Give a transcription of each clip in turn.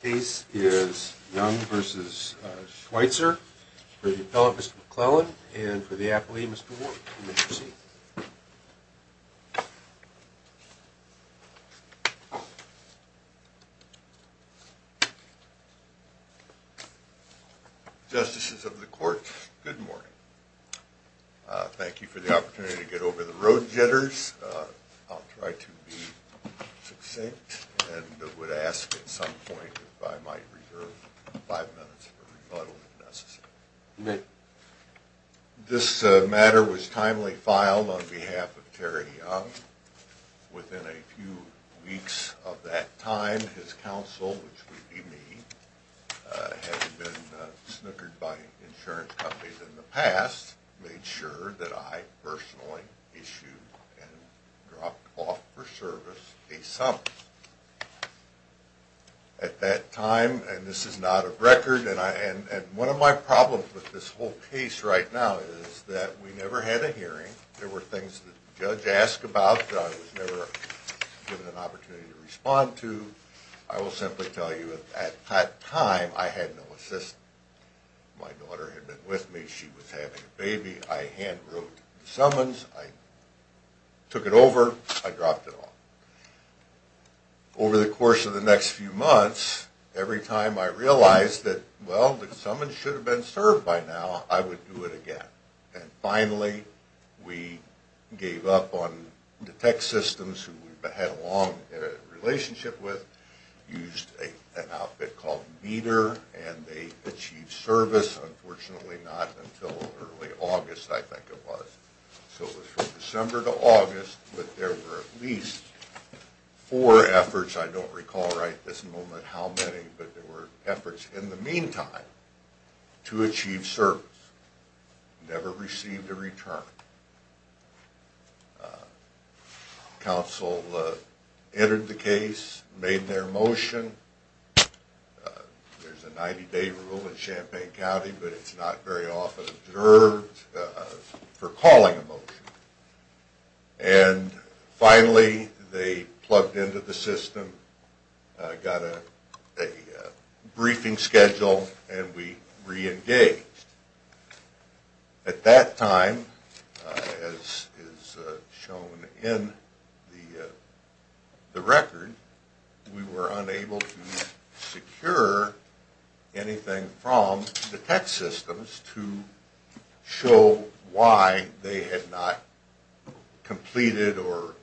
The case is Young v. Schweitzer for the Appellant Mr. McClellan and for the Appellee Mr. Ward. Justices of the Court, good morning. Thank you for the opportunity to get over the road jitters. I'll try to be succinct and would ask at some point if I might reserve five minutes for rebuttal if necessary. This matter was timely filed on behalf of Terry Young. Within a few weeks of that time his counsel, which would be me, having been snickered by insurance companies in the past, made sure that I personally issued and dropped off for service a summons. At that time, and this is not a record, and one of my problems with this whole case right now is that we never had a hearing. There were things that the judge asked about that I was never given an opportunity to respond to. I will simply tell you at that time I had no assistance. My daughter had been with me. She was having a baby. I hand wrote the summons. I took it over. I dropped it off. Over the course of the next few months, every time I realized that, well, the summons should have been served by now, I would do it again. Finally, we gave up on the tech systems who we had a long relationship with, used an outfit called meter, and they achieved service. Unfortunately, not until early August, I think it was. It was from December to August, but there were at least four efforts. I don't recall right this moment how many, but there were efforts in the meantime to achieve service. Never received a return. Counsel entered the case, made their motion. There's a 90-day rule in Champaign County, but it's not very often observed for calling a motion. Finally, they plugged into the system, got a briefing schedule, and we reengaged. At that time, as is shown in the record, we were unable to secure anything from the tech systems to show why they had not completed or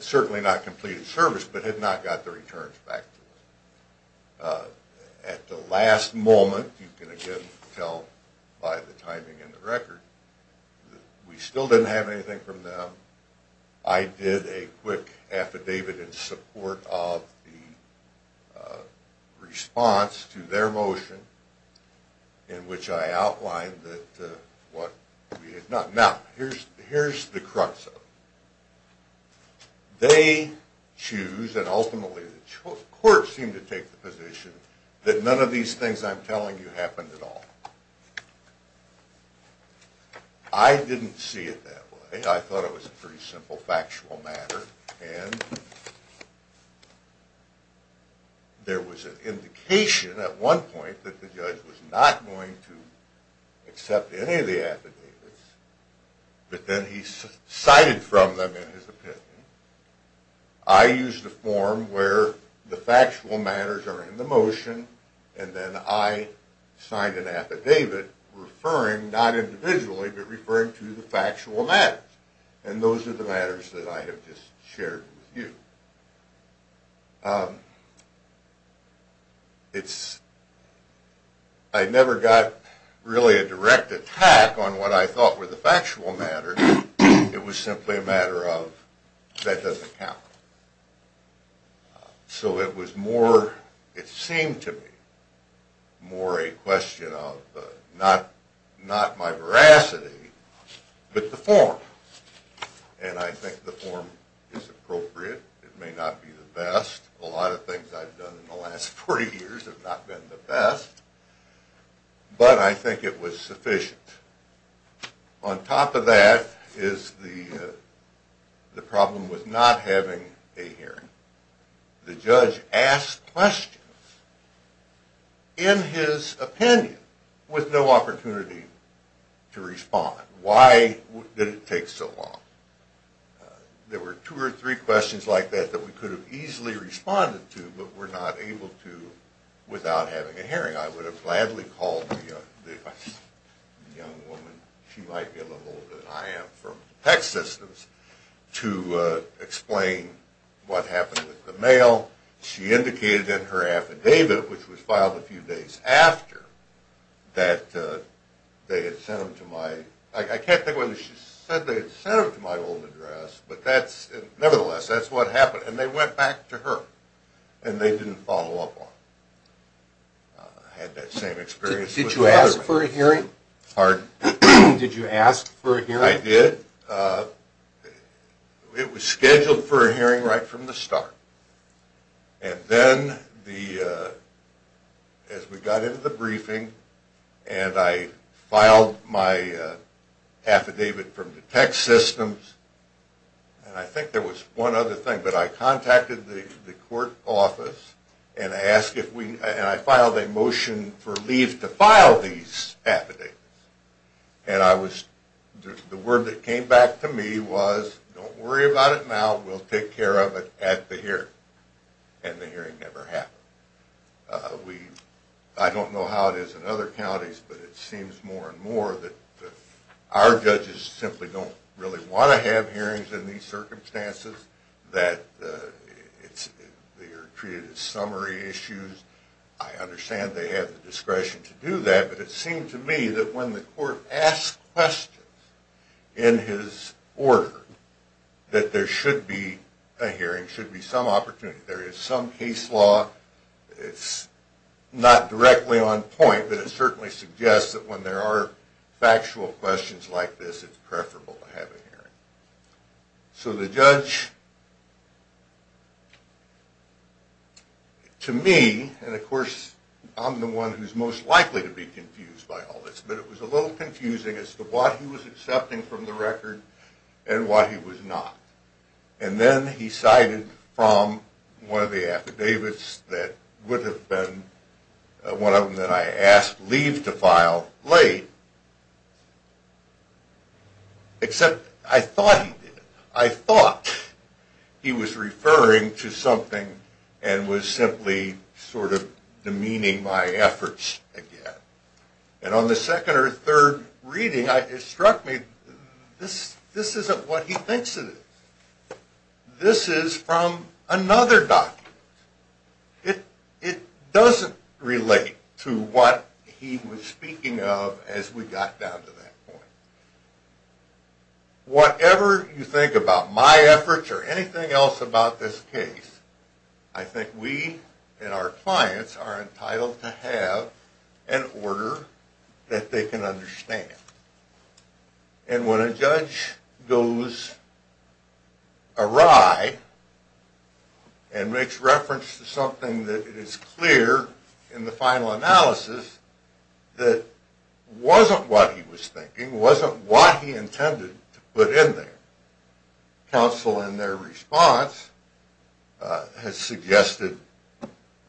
certainly not completed service, but had not got the returns back to us. At the last moment, you can again tell by the timing in the record, we still didn't have anything from them. I did a quick affidavit in support of the response to their motion in which I outlined what we had done. Now, here's the crux of it. They choose, and ultimately the courts seem to take the position, that none of these things I'm telling you happened at all. I didn't see it that way. I thought it was a pretty simple factual matter. There was an indication at one point that the judge was not going to accept any of the affidavits, but then he cited from them in his opinion. I used a form where the factual matters are in the motion, and then I signed an affidavit referring, not individually, but referring to the factual matters. And those are the matters that I have just shared with you. I never got really a direct attack on what I thought were the factual matters. It was simply a matter of, that doesn't count. So it was more, it seemed to me, more a question of not my veracity, but the form. And I think the form is appropriate. It may not be the best. A lot of things I've done in the last four years have not been the best, but I think it was sufficient. On top of that is the problem with not having a hearing. The judge asked questions in his opinion with no opportunity to respond. Why did it take so long? There were two or three questions like that that we could have easily responded to, but were not able to without having a hearing. I would have gladly called the young woman, she might be a little older than I am from tech systems, to explain what happened with the mail. She indicated in her affidavit, which was filed a few days after, that they had sent them to my old address. Nevertheless, that's what happened. And they went back to her, and they didn't follow up on it. I had that same experience with the other one. Did you ask for a hearing? Pardon? Did you ask for a hearing? I did. It was scheduled for a hearing right from the start. And then, as we got into the briefing, and I filed my affidavit from the tech systems, and I think there was one other thing. But I contacted the court office, and I filed a motion for leave to file these affidavits. And the word that came back to me was, don't worry about it now, we'll take care of it at the hearing. They are treated as summary issues. I understand they have the discretion to do that, but it seemed to me that when the court asked questions in his order, that there should be a hearing, there should be some opportunity. There is some case law, it's not directly on point, but it certainly suggests that when there are factual questions like this, it's preferable to have a hearing. So the judge, to me, and of course I'm the one who's most likely to be confused by all this, but it was a little confusing as to what he was accepting from the record and what he was not. And then he cited from one of the affidavits that would have been one of them that I asked leave to file late, except I thought he did. I thought he was referring to something and was simply sort of demeaning my efforts again. And on the second or third reading, it struck me, this isn't what he thinks it is. This is from another document. It doesn't relate to what he was speaking of as we got down to that point. Whatever you think about my efforts or anything else about this case, I think we and our clients are entitled to have an order that they can understand. And when a judge goes awry and makes reference to something that is clear in the final analysis that wasn't what he was thinking, wasn't what he intended to put in there, counsel in their response has suggested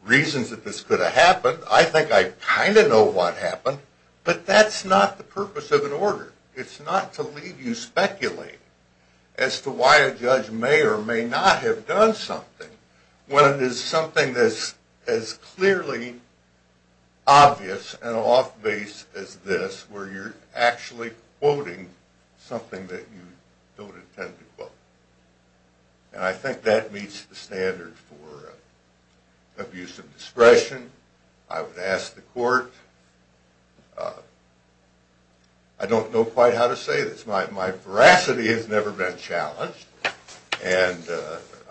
reasons that this could have happened. I think I kind of know what happened, but that's not the purpose of an order. It's not to leave you speculating as to why a judge may or may not have done something when it is something that's as clearly obvious and off-base as this where you're actually quoting something that you don't intend to quote. And I think that meets the standard for abuse of discretion. I would ask the court – I don't know quite how to say this. My veracity has never been challenged, and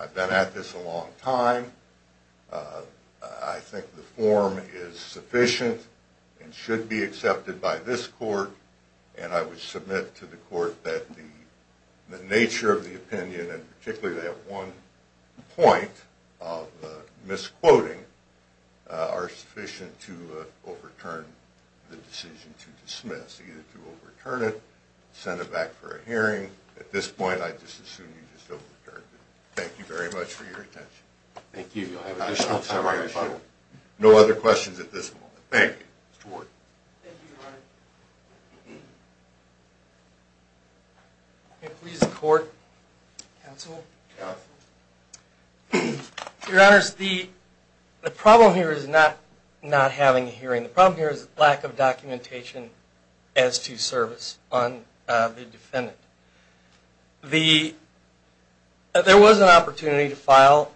I've been at this a long time. I think the form is sufficient and should be accepted by this court, and I would submit to the court that the nature of the opinion, and particularly that one point of misquoting, are sufficient to overturn the decision to dismiss. Either to overturn it, send it back for a hearing. At this point, I just assume you just overturned it. Thank you very much for your attention. Thank you. You'll have additional time for questions. No other questions at this point. Thank you. Thank you, Your Honor. May it please the court? Counsel? Counsel. Your Honors, the problem here is not having a hearing. The problem here is lack of documentation as to service on the defendant. There was an opportunity to file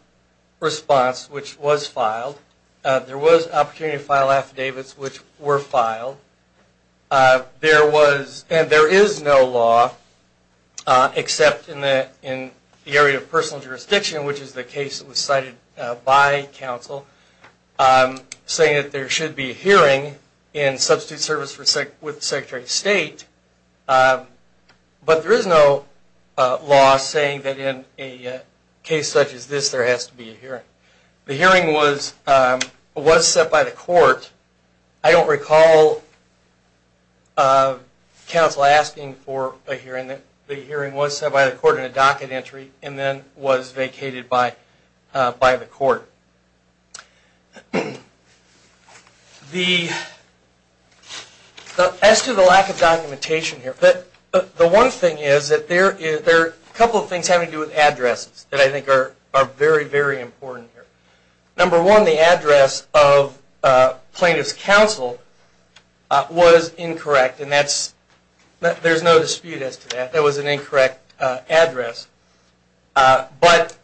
response, which was filed. There was an opportunity to file affidavits, which were filed. There is no law, except in the area of personal jurisdiction, which is the case that was cited by counsel, saying that there should be a hearing in substitute service with the Secretary of State. But there is no law saying that in a case such as this, there has to be a hearing. The hearing was set by the court. I don't recall counsel asking for a hearing. The hearing was set by the court in a docket entry and then was vacated by the court. As to the lack of documentation here, the one thing is that there are a couple of things having to do with addresses that I think are very, very important here. Number one, the address of plaintiff's counsel was incorrect, and there is no dispute as to that. There was an incorrect address. But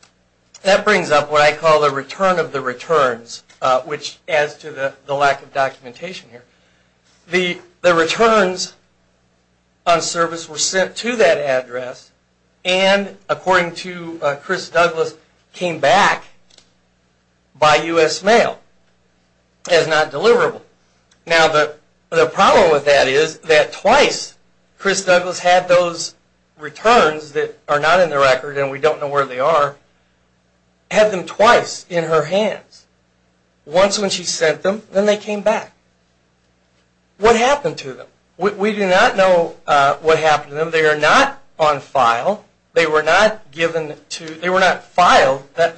that brings up what I call the return of the returns, which adds to the lack of documentation here. The returns on service were sent to that address, and according to Chris Douglas, came back by U.S. Mail as not deliverable. Now, the problem with that is that twice Chris Douglas had those returns that are not in the record and we don't know where they are, had them twice in her hands. Once when she sent them, then they came back. What happened to them? We do not know what happened to them. They are not on file. They were not filed. The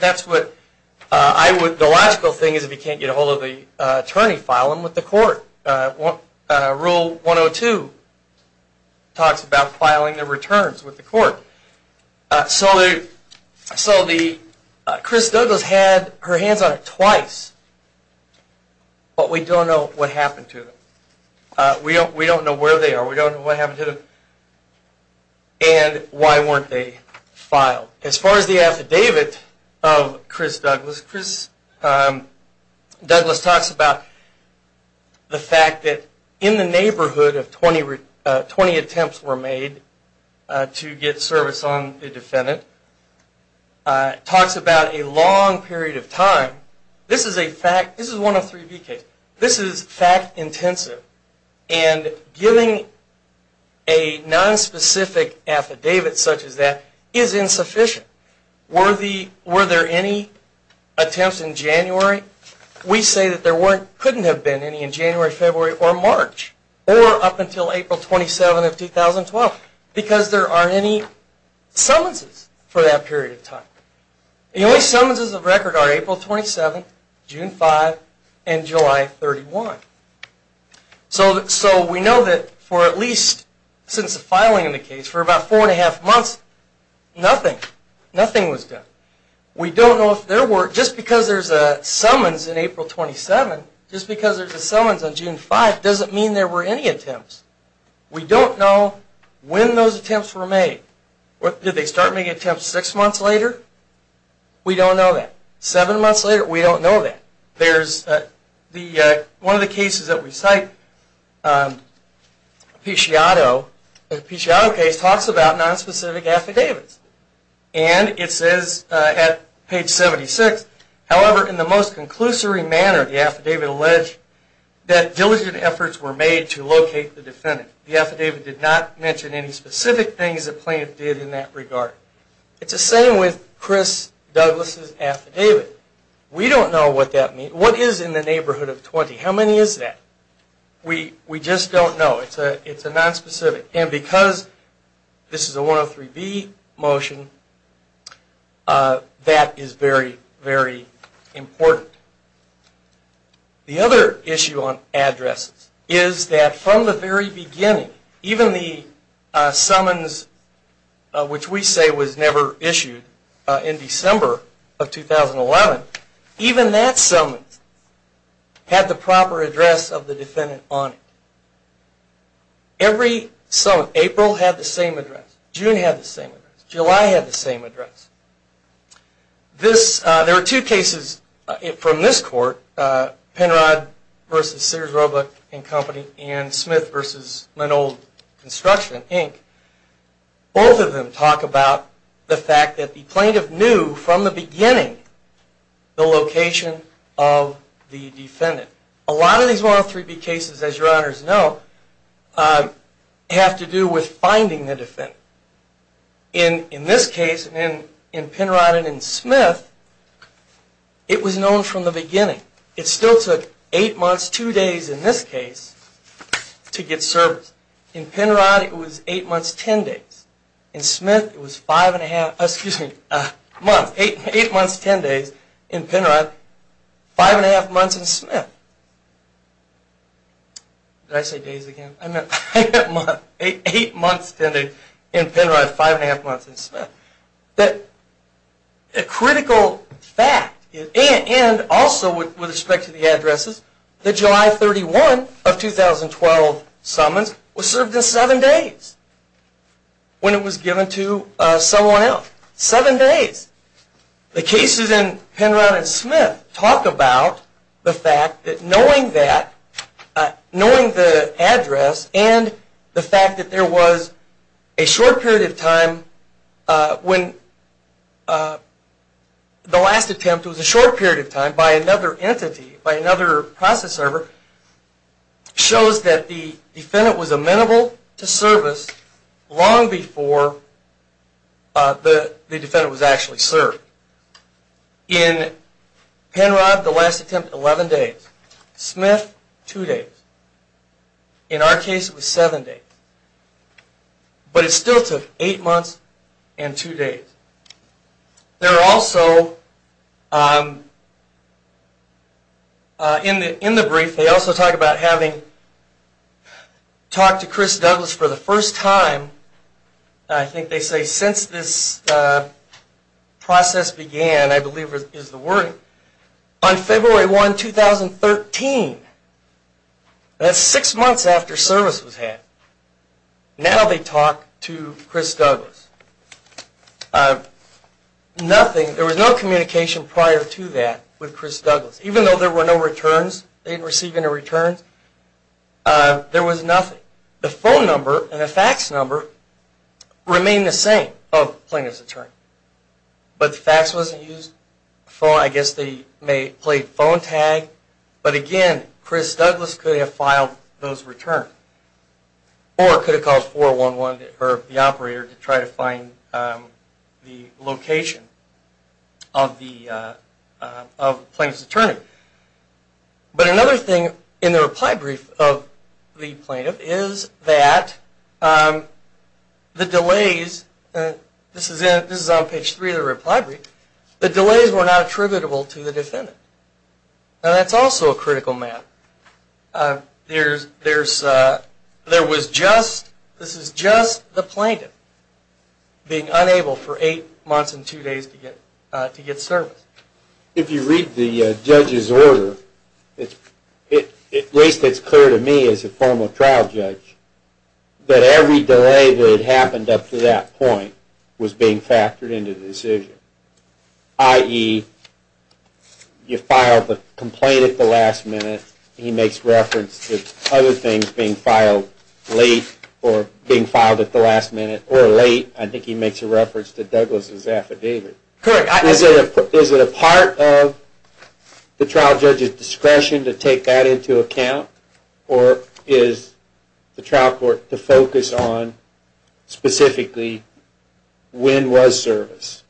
logical thing is if you can't get a hold of the attorney, file them with the court. Rule 102 talks about filing the returns with the court. So Chris Douglas had her hands on it twice, but we don't know what happened to them. We don't know where they are. We don't know what happened to them, and why weren't they filed. As far as the affidavit of Chris Douglas, Chris Douglas talks about the fact that in the neighborhood of 20 attempts were made to get service on the defendant. Talks about a long period of time. This is a fact. This is 103B case. This is fact intensive. And giving a nonspecific affidavit such as that is insufficient. Were there any attempts in January? We say that there couldn't have been any in January, February, or March. Or up until April 27 of 2012. Because there aren't any summonses for that period of time. The only summonses of record are April 27, June 5, and July 31. So we know that for at least, since the filing of the case, for about four and a half months, nothing. Nothing was done. We don't know if there were, just because there's a summons in April 27, just because there's a summons on June 5 doesn't mean there were any attempts. We don't know when those attempts were made. Did they start making attempts six months later? We don't know that. Seven months later? We don't know that. There's the, one of the cases that we cite, Apicciato. The Apicciato case talks about nonspecific affidavits. And it says at page 76, However, in the most conclusory manner, the affidavit alleged that diligent efforts were made to locate the defendant. The affidavit did not mention any specific things the plaintiff did in that regard. It's the same with Chris Douglas' affidavit. We don't know what that means. What is in the neighborhood of 20? How many is that? We just don't know. It's a nonspecific. And because this is a 103B motion, that is very, very important. The other issue on addresses is that from the very beginning, even the summons, which we say was never issued in December of 2011, even that summons had the proper address of the defendant on it. Every summons, April had the same address. June had the same address. July had the same address. There are two cases from this court, Penrod v. Sears Roebuck & Company and Smith v. Linold Construction, Inc. Both of them talk about the fact that the plaintiff knew from the beginning the location of the defendant. A lot of these 103B cases, as your honors know, have to do with finding the defendant. In this case, in Penrod and in Smith, it was known from the beginning. It still took eight months, two days in this case, to get service. In Penrod, it was eight months, ten days. In Smith, it was eight months, ten days. In Penrod, five and a half months in Smith. Did I say days again? I meant eight months, ten days. In Penrod, five and a half months in Smith. A critical fact, and also with respect to the addresses, the July 31 of 2012 summons was served in seven days when it was given to someone else. Seven days. The cases in Penrod and Smith talk about the fact that knowing that, knowing the address and the fact that there was a short period of time when the last attempt was a short period of time by another entity, by another process server, shows that the defendant was amenable to service long before the defendant was actually served. In Penrod, the last attempt, 11 days. Smith, two days. In our case, it was seven days. But it still took eight months and two days. There are also, in the brief, they also talk about having talked to Chris Douglas for the first time, I think they say since this process began, I believe is the word, on February 1, 2013. That's six months after service was had. Now they talk to Chris Douglas. Nothing, there was no communication prior to that with Chris Douglas. Even though there were no returns, they didn't receive any returns, there was nothing. The phone number and the fax number remained the same of plaintiff's attorney. But the fax wasn't used, I guess they played phone tag, but again, Chris Douglas could have filed those returns. Or could have called 411 or the operator to try to find the location of the plaintiff's attorney. But another thing in the reply brief of the plaintiff is that the delays, this is on page three of the reply brief, the delays were not attributable to the defendant. Now that's also a critical matter. There was just, this is just the plaintiff being unable for eight months and two days to get service. If you read the judge's order, at least it's clear to me as a formal trial judge, that every delay that had happened up to that point was being factored into the decision. I.e., you filed the complaint at the last minute, he makes reference to other things being filed late, or being filed at the last minute, or late, I think he makes a reference to Douglas' affidavit. Is it a part of the trial judge's discretion to take that into account? Or is the trial court to focus on specifically when was service?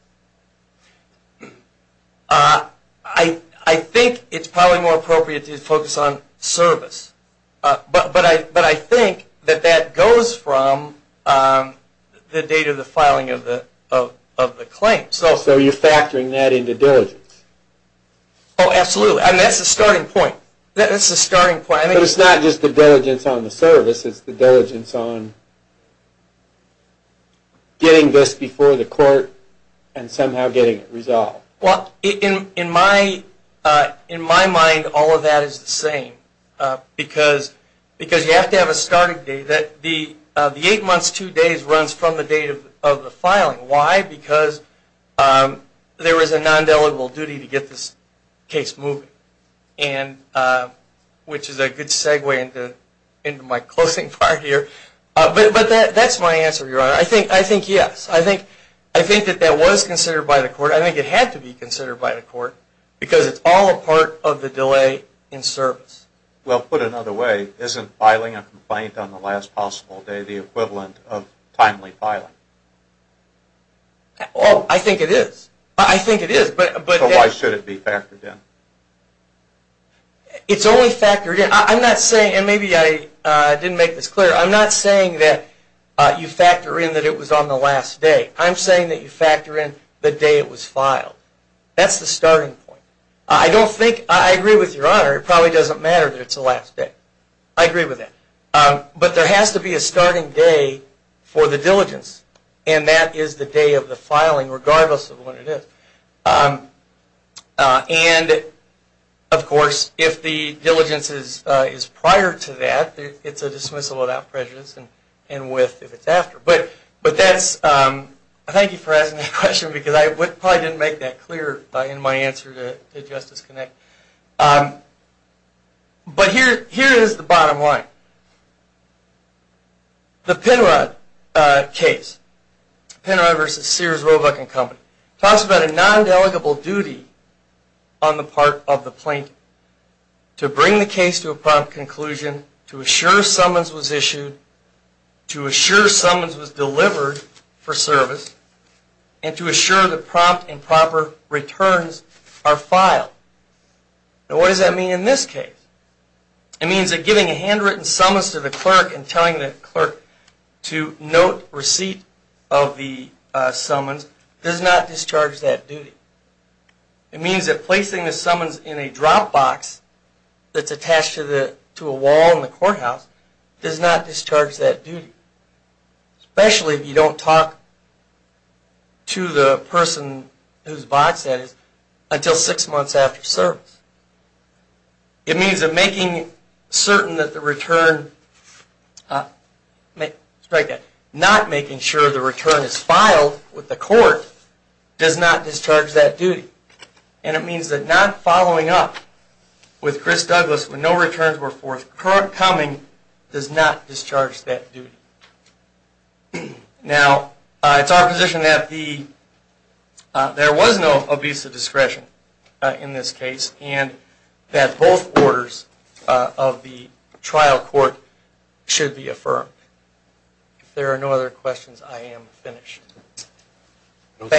I think it's probably more appropriate to focus on service. But I think that that goes from the date of the filing of the claim. So you're factoring that into diligence? Oh, absolutely. And that's the starting point. That's the starting point. But it's not just the diligence on the service. It's the diligence on getting this before the court and somehow getting it resolved. Well, in my mind, all of that is the same. Because you have to have a starting date. The eight months, two days runs from the date of the filing. Why? Because there is a non-deligible duty to get this case moving. Which is a good segue into my closing part here. But that's my answer, Your Honor. I think yes. I think that that was considered by the court. I think it had to be considered by the court. Because it's all a part of the delay in service. Well, put another way, isn't filing a complaint on the last possible day the equivalent of timely filing? Well, I think it is. I think it is. So why should it be factored in? It's only factored in. I'm not saying, and maybe I didn't make this clear, I'm not saying that you factor in that it was on the last day. I'm saying that you factor in the day it was filed. That's the starting point. I don't think, I agree with Your Honor, it probably doesn't matter that it's the last day. I agree with that. But there has to be a starting day for the diligence. And that is the day of the filing, regardless of when it is. And, of course, if the diligence is prior to that, it's a dismissal without prejudice and with if it's after. But that's, thank you for asking that question because I probably didn't make that clear in my answer to Justice Connect. But here is the bottom line. The Penrod case, Penrod v. Sears, Roebuck & Company, talks about a non-delegable duty on the part of the plaintiff to bring the case to a prompt conclusion, to assure summons was issued, to assure summons was delivered for service, and to assure the prompt and proper returns are filed. Now what does that mean in this case? It means that giving a handwritten summons to the clerk and telling the clerk to note receipt of the summons does not discharge that duty. It means that placing the summons in a drop box that's attached to a wall in the courthouse does not discharge that duty, especially if you don't talk to the person whose box that is until six months after service. It means that making certain that the return, not making sure the return is filed with the court does not discharge that duty. And it means that not following up with Chris Douglas when no returns were forthcoming does not discharge that duty. Now it's our position that there was no obese discretion in this case and that both orders of the trial court should be affirmed. If there are no other questions, I am finished. I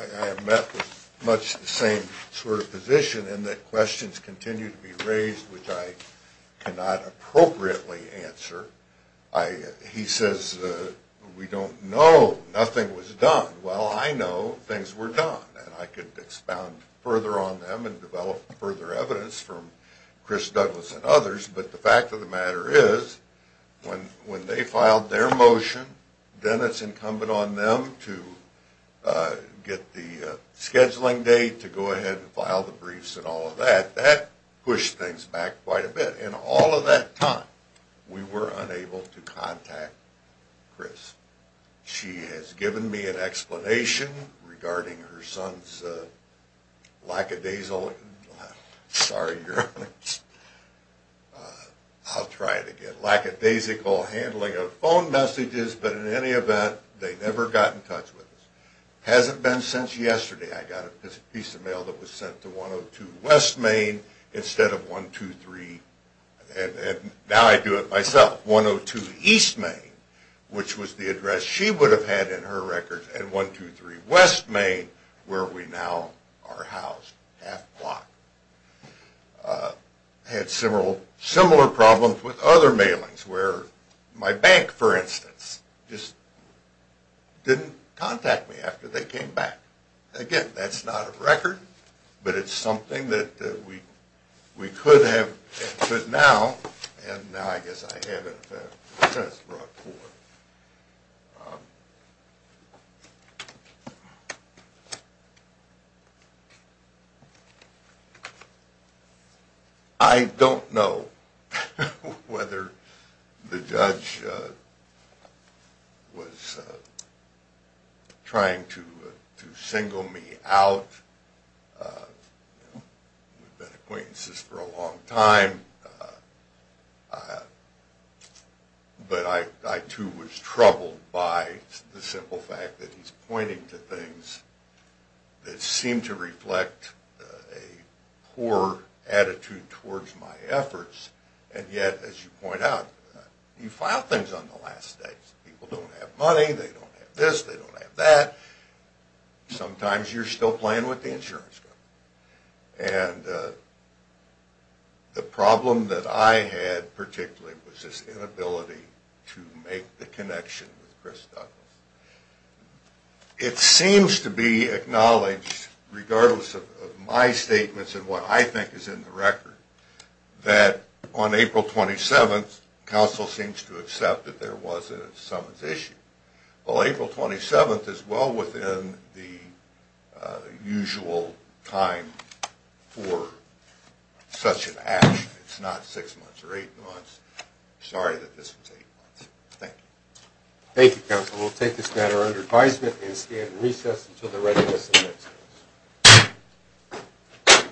have met with much the same sort of position in that questions continue to be raised which I cannot appropriately answer. He says we don't know, nothing was done. Well, I know things were done, and I could expound further on them and develop further evidence from Chris Douglas and others, but the fact of the matter is when they filed their motion, then it's incumbent on them to get the scheduling date to go ahead and file the briefs and all of that. That pushed things back quite a bit, and all of that time we were unable to contact Chris. She has given me an explanation regarding her son's lackadaisical handling of phone messages, but in any event, they never got in touch with us. It hasn't been since yesterday I got a piece of mail that was sent to 102 West Main instead of 123, and now I do it myself, 102 East Main, which was the address she would have had in her records, and 123 West Main where we now are housed, half block. I had similar problems with other mailings where my bank, for instance, just didn't contact me after they came back. Again, that's not a record, but it's something that we could have, and could now, and now I guess I haven't since brought forth. I don't know whether the judge was trying to single me out. We've been acquaintances for a long time, but I too was troubled by the simple fact that he's pointing to things that seem to reflect a poor attitude towards my efforts, and yet, as you point out, you file things on the last day. People don't have money, they don't have this, they don't have that. Sometimes you're still playing with the insurance company, and the problem that I had particularly was this inability to make the connection with Chris Douglas. It seems to be acknowledged, regardless of my statements and what I think is in the record, that on April 27th, counsel seems to accept that there was a summons issue. Well, April 27th is well within the usual time for such an action. It's not six months or eight months. Sorry that this is eight months. Thank you. Thank you, counsel. We'll take this matter under advisement and stand in recess until the readiness of the next case.